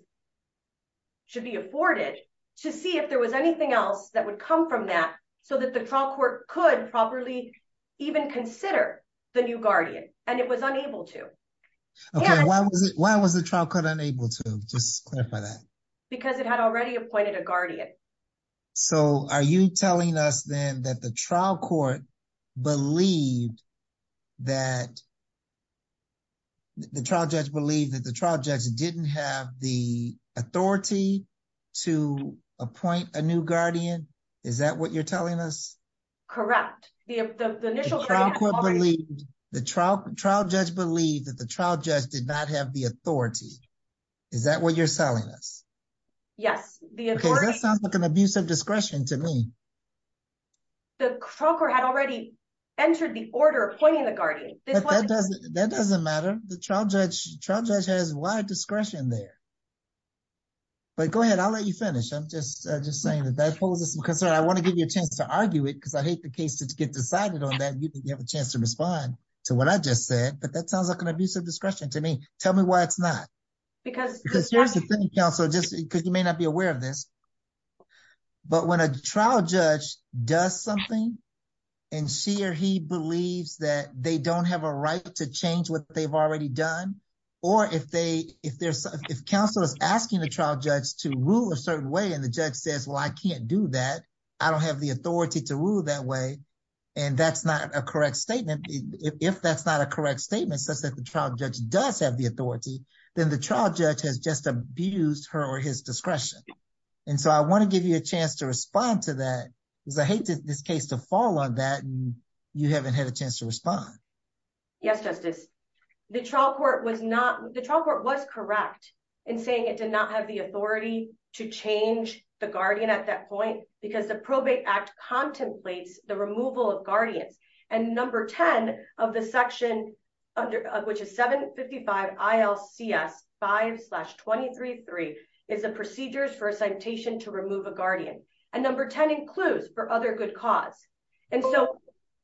should be afforded to see if there was anything else that would come from that, so that the trial court could properly even consider the new guardian. And it was unable to. Why was the trial court unable to? Just clarify that. Because it had already appointed a guardian. So are you telling us then that the trial court believed that the trial judge didn't have the authority to appoint a new guardian? Is that what you're telling us? Correct. The trial judge believed that the trial judge did not have the authority. Is that what you're telling us? Yes. That sounds like an abuse of discretion to me. The trial court had already entered the order appointing the guardian. That doesn't matter. The trial judge has a lot of discretion there. But go ahead, I'll let you finish. I'm just just saying that that poses some concern. I want to give you a chance to argue it because I hate the case to get decided on that. You have a chance to respond to what I just said, but that sounds like an abuse of discretion to me. Tell me why it's not. Because you may not be aware of this. But when a trial judge does something. And she or he believes that they don't have a right to change what they've already done. Or if they if there's if counsel is asking the trial judge to rule a certain way, and the judge says, well, I can't do that. I don't have the authority to rule that way. And that's not a correct statement. If that's not a correct statement, such that the trial judge does have the authority, then the trial judge has just abused her or his discretion. And so I want to give you a chance to respond to that because I hate this case to fall on that. You haven't had a chance to respond. Yes, justice. The trial court was not the trial court was correct in saying it did not have the authority to change the guardian at that point, because the probate act contemplates the removal of guardians and number 10 of the section, which is 755 ILCS five slash 23 three is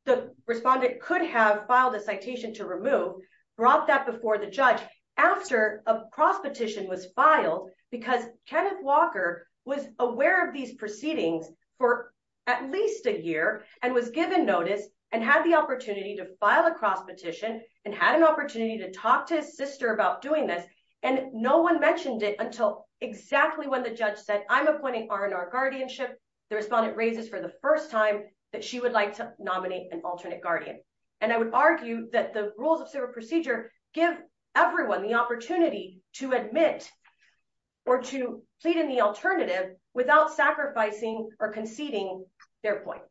the respondent could have filed a citation to remove brought that before the judge after a cross petition was filed because Kenneth Walker was aware of these proceedings for at least a year and was given notice and had the opportunity to file a cross petition and had an opportunity to talk to his sister about doing this, and no one mentioned it until exactly when the judge said I'm appointing our in our guardianship, the respondent raises for the first time that she would like to nominate an alternate guardian, and I would argue that the rules of civil procedure, give everyone the opportunity to admit or to plead in the alternative without sacrificing or conceding their point.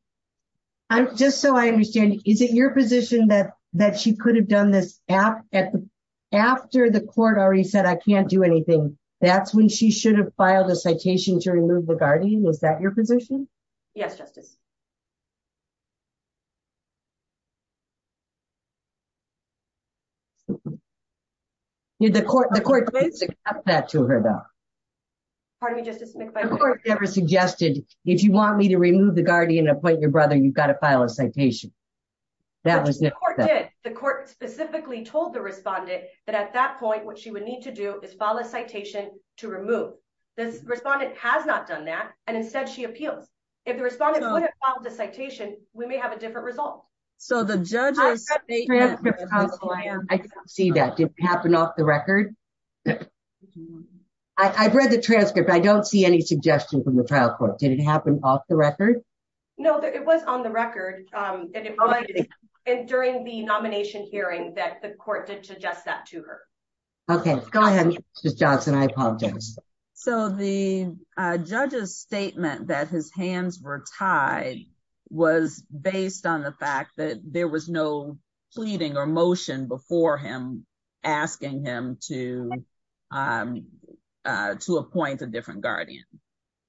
I'm just so I understand, is it your position that that she could have done this app at the after the court already said I can't do anything. That's when she should have filed a citation to remove the guardian was that your position. Did the court the court basic up that to her though. That was the court did the court specifically told the respondent that at that point what she would need to do is follow citation to remove this respondent has not done that, and instead she appeals. The citation, we may have a different result. So the judges see that did happen off the record. I read the transcript I don't see any suggestion from the trial court did it happen off the record. No, it was on the record. And during the nomination hearing that the court did suggest that to her. Okay, go ahead. Johnson I apologize. So the judges statement that his hands were tied was based on the fact that there was no pleading or motion before him, asking him to to appoint a different guardian.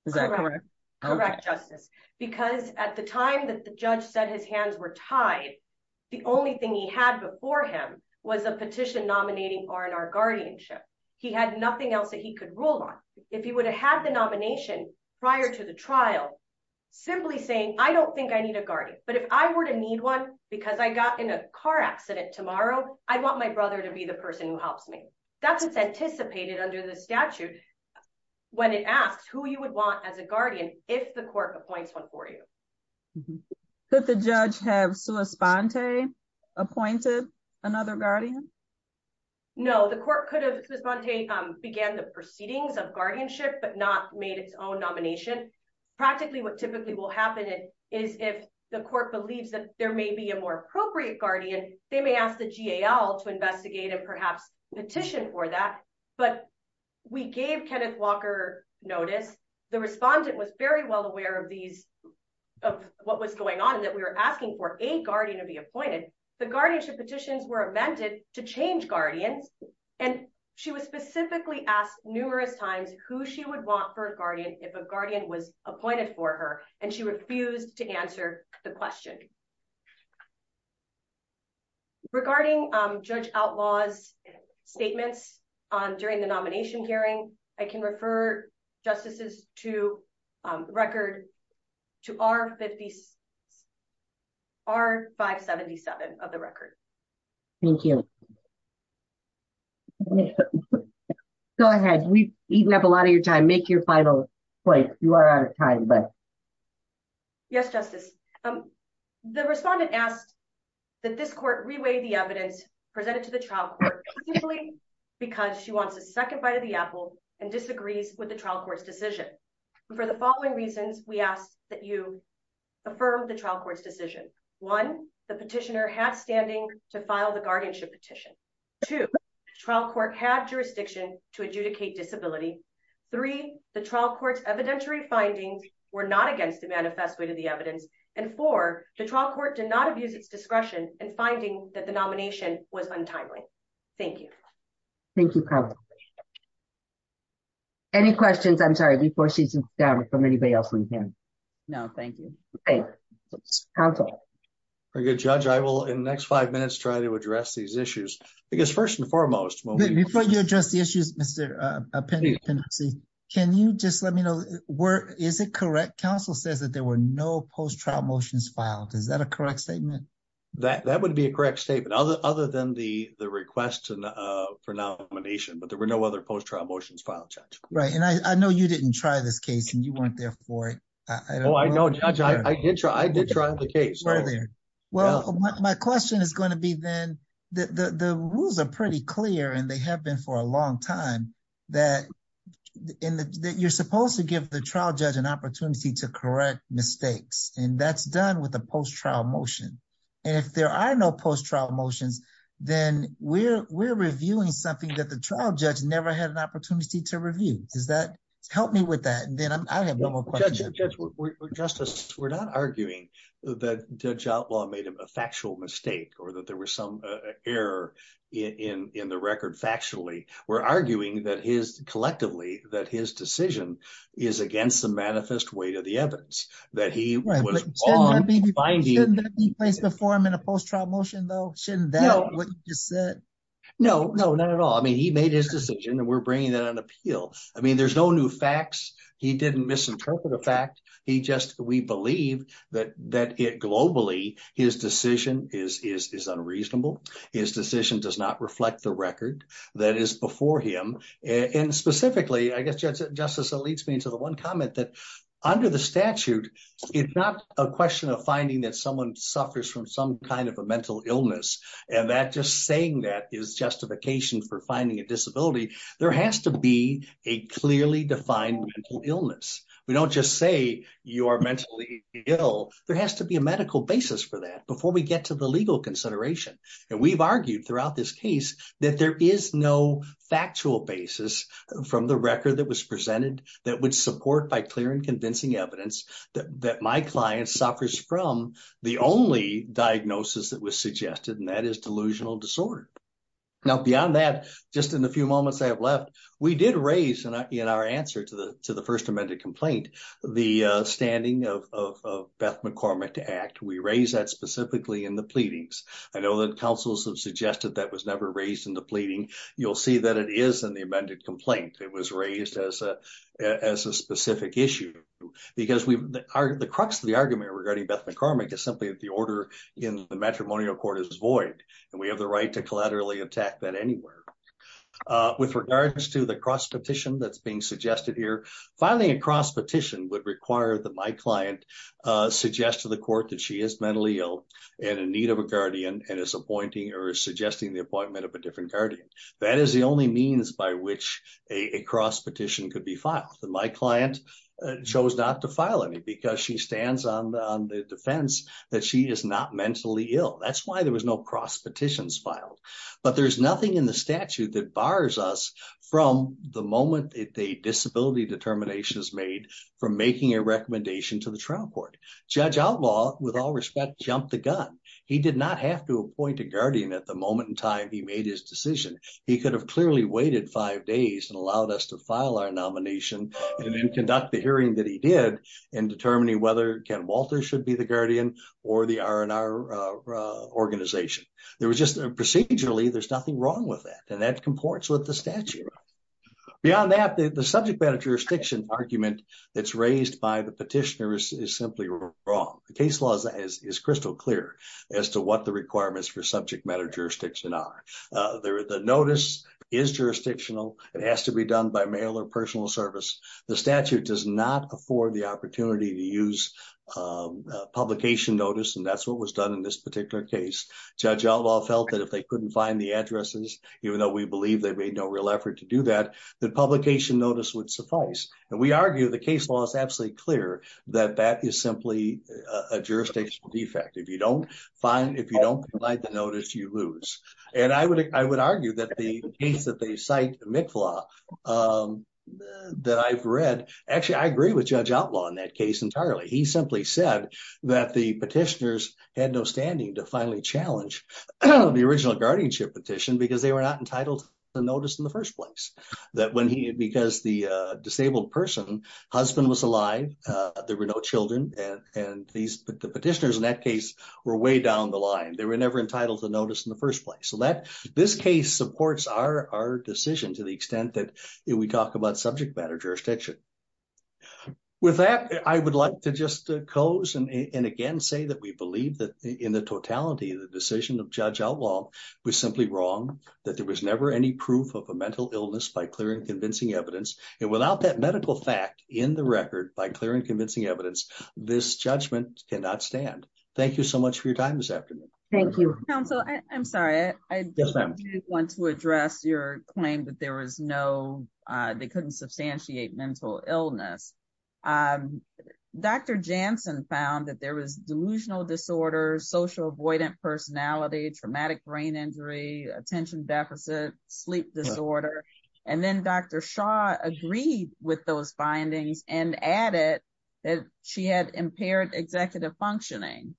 Is that correct, correct justice, because at the time that the judge said his hands were tied. The only thing he had before him was a petition nominating or in our guardianship. He had nothing else that he could rule on if he would have had the nomination. Prior to the trial, simply saying, I don't think I need a guardian, but if I were to need one, because I got in a car accident tomorrow. I want my brother to be the person who helps me. That's what's anticipated under the statute. When it asks who you would want as a guardian, if the court appoints one for you. But the judge have so respond to appointed another guardian. No, the court could have responded began the proceedings of guardianship but not made its own nomination. Practically what typically will happen is if the court believes that there may be a more appropriate guardian, they may ask the gal to investigate and perhaps petition for that. But we gave Kenneth Walker, notice, the respondent was very well aware of these of what was going on that we were asking for a guardian to be appointed the guardianship petitions were invented to change guardians, and she was specifically asked numerous times who she would want for a guardian, if a guardian was appointed for her, and she refused to answer the question. Regarding judge outlaws statements on during the nomination hearing, I can refer justices to record to our 50s are 577 of the record. Thank you. Go ahead, we have a lot of your time make your final point, you are out of time but. Yes, justice. The respondent asked that this court reweigh the evidence presented to the trial. Because she wants a second bite of the apple and disagrees with the trial court's decision. For the following reasons, we ask that you affirm the trial court's decision. One, the petitioner has standing to file the guardianship petition to trial court had jurisdiction to adjudicate disability. Three, the trial courts evidentiary findings were not against the manifesto to the evidence, and for the trial court did not abuse its discretion and finding that the nomination was untimely. Thank you. Thank you. Any questions I'm sorry before she's down from anybody else we can. No, thank you. Good judge I will in the next five minutes try to address these issues, because first and foremost, before you address the issues, Mr. Can you just let me know where is it correct Council says that there were no post trial motions filed is that a correct statement that that would be a correct statement other other than the, the request for nomination but there were no other post trial motions right and I know you didn't try this case and you weren't there for it. I know I did try I did try the case right there. Well, my question is going to be then the rules are pretty clear and they have been for a long time that in the, that you're supposed to give the trial judge an opportunity to correct mistakes, and that's done with a post trial motion. And if there are no post trial motions, then we're, we're reviewing something that the trial judge never had an opportunity to review, does that help me with that justice, we're not arguing that job law made a factual mistake or that there was some error in the record factually, we're arguing that his collectively that his decision is against the manifest way to the evidence that he was finding the form in a post trial motion that what you said. No, no, not at all. I mean he made his decision and we're bringing that on appeal. I mean there's no new facts. He didn't misinterpret the fact he just, we believe that that it globally, his decision is unreasonable. His decision does not reflect the record that is before him, and specifically I guess just justice leads me to the one comment that under the statute. It's not a question of finding that someone suffers from some kind of a mental illness, and that just saying that is justification for finding a disability, there has to be a clearly defined mental illness. We don't just say you are mentally ill, there has to be a medical basis for that before we get to the legal consideration, and we've argued throughout this case that there is no factual basis from the record that was presented that would support by clear and convincing evidence that my client suffers from the only diagnosis that was suggested and that is delusional disorder. Now beyond that, just in the few moments I have left, we did raise in our answer to the to the first amended complaint, the standing of Beth McCormick to act we raise that specifically in the pleadings. I know that councils have suggested that was never raised in the pleading, you'll see that it is in the amended complaint, it was raised as a as a specific issue, because we are the crux of the argument regarding Beth McCormick is simply that the order in the matrimonial court is void, and we have the right to collaterally attack that anywhere. With regards to the cross petition that's being suggested here. Finally, a cross petition would require the my client suggest to the court that she is mentally ill and in need of a guardian and is appointing or suggesting the appointment of a different guardian. That is the only means by which a cross petition could be filed the my client chose not to file any because she stands on the defense that she is not mentally ill that's why there was no cross petitions filed, but there's nothing in the statute that bars us from the moment in time he made his decision, he could have clearly waited five days and allowed us to file our nomination, and then conduct the hearing that he did in determining whether Ken Walter should be the guardian, or the R&R organization. There was just a procedurally there's nothing wrong with that and that comports with the statute. Beyond that, the subject matter jurisdiction argument that's raised by the petitioners is simply wrong. The case laws as is crystal clear as to what the requirements for subject matter jurisdiction are there the notice is jurisdictional, it has to be done by mail or personal service, the statute does not afford the opportunity to use publication notice and that's what was done in this particular case. Judge outlaw felt that if they couldn't find the addresses, even though we believe they made no real effort to do that, the publication notice would suffice, and we argue the case was absolutely clear that that is simply a jurisdictional defect if you don't find if you don't like the notice you lose. And I would, I would argue that the case that they cite mcflaw that I've read, actually I agree with judge outlaw in that case entirely he simply said that the petitioners had no standing to finally challenge the original guardianship petition because they were not entitled to notice in the first place that when he because the disabled person, husband was alive. There were no children, and these petitioners in that case were way down the line they were never entitled to notice in the first place so that this case supports our decision to the extent that we talked about subject matter jurisdiction. With that, I would like to just close and again say that we believe that in the totality of the decision of judge outlaw was simply wrong that there was never any proof of a mental illness by clear and convincing evidence, and without that medical fact in the record by clear and convincing evidence, this judgment cannot stand. Thank you so much for your time this afternoon. Thank you. I'm sorry, I want to address your claim that there was no, they couldn't substantiate mental illness. Dr. Johnson found that there was delusional disorders social avoidant personality traumatic brain injury attention deficit sleep disorder. And then Dr. Shaw agreed with those findings and added that she had impaired executive functioning.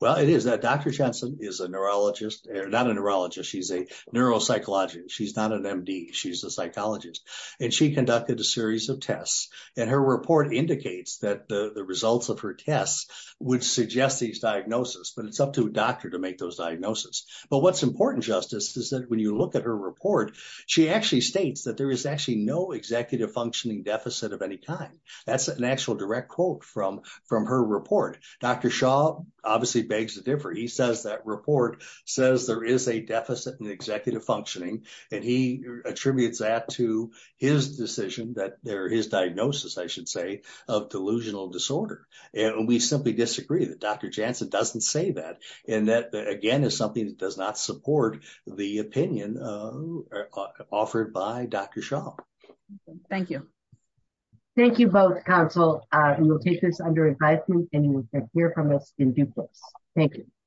Well, it is that Dr. Johnson is a neurologist, not a neurologist she's a neuropsychologist she's not an MD, she's a psychologist, and she conducted a series of tests, and her report indicates that the results of her tests would suggest these diagnosis but it's up to a doctor to make those diagnosis. But what's important justice is that when you look at her report, she actually states that there is actually no executive functioning deficit of any time. That's an actual direct quote from from her report, Dr. Shaw, obviously begs the differ he says that report says there is a deficit and executive functioning, and he attributes that to his decision that there is diagnosis I should say, of delusional disorder. And we simply disagree that Dr. Johnson doesn't say that. And that again is something that does not support the opinion offered by Dr. Shaw. Thank you. Thank you both counsel, you'll take this under advisement, and you can hear from us in due course. Thank you.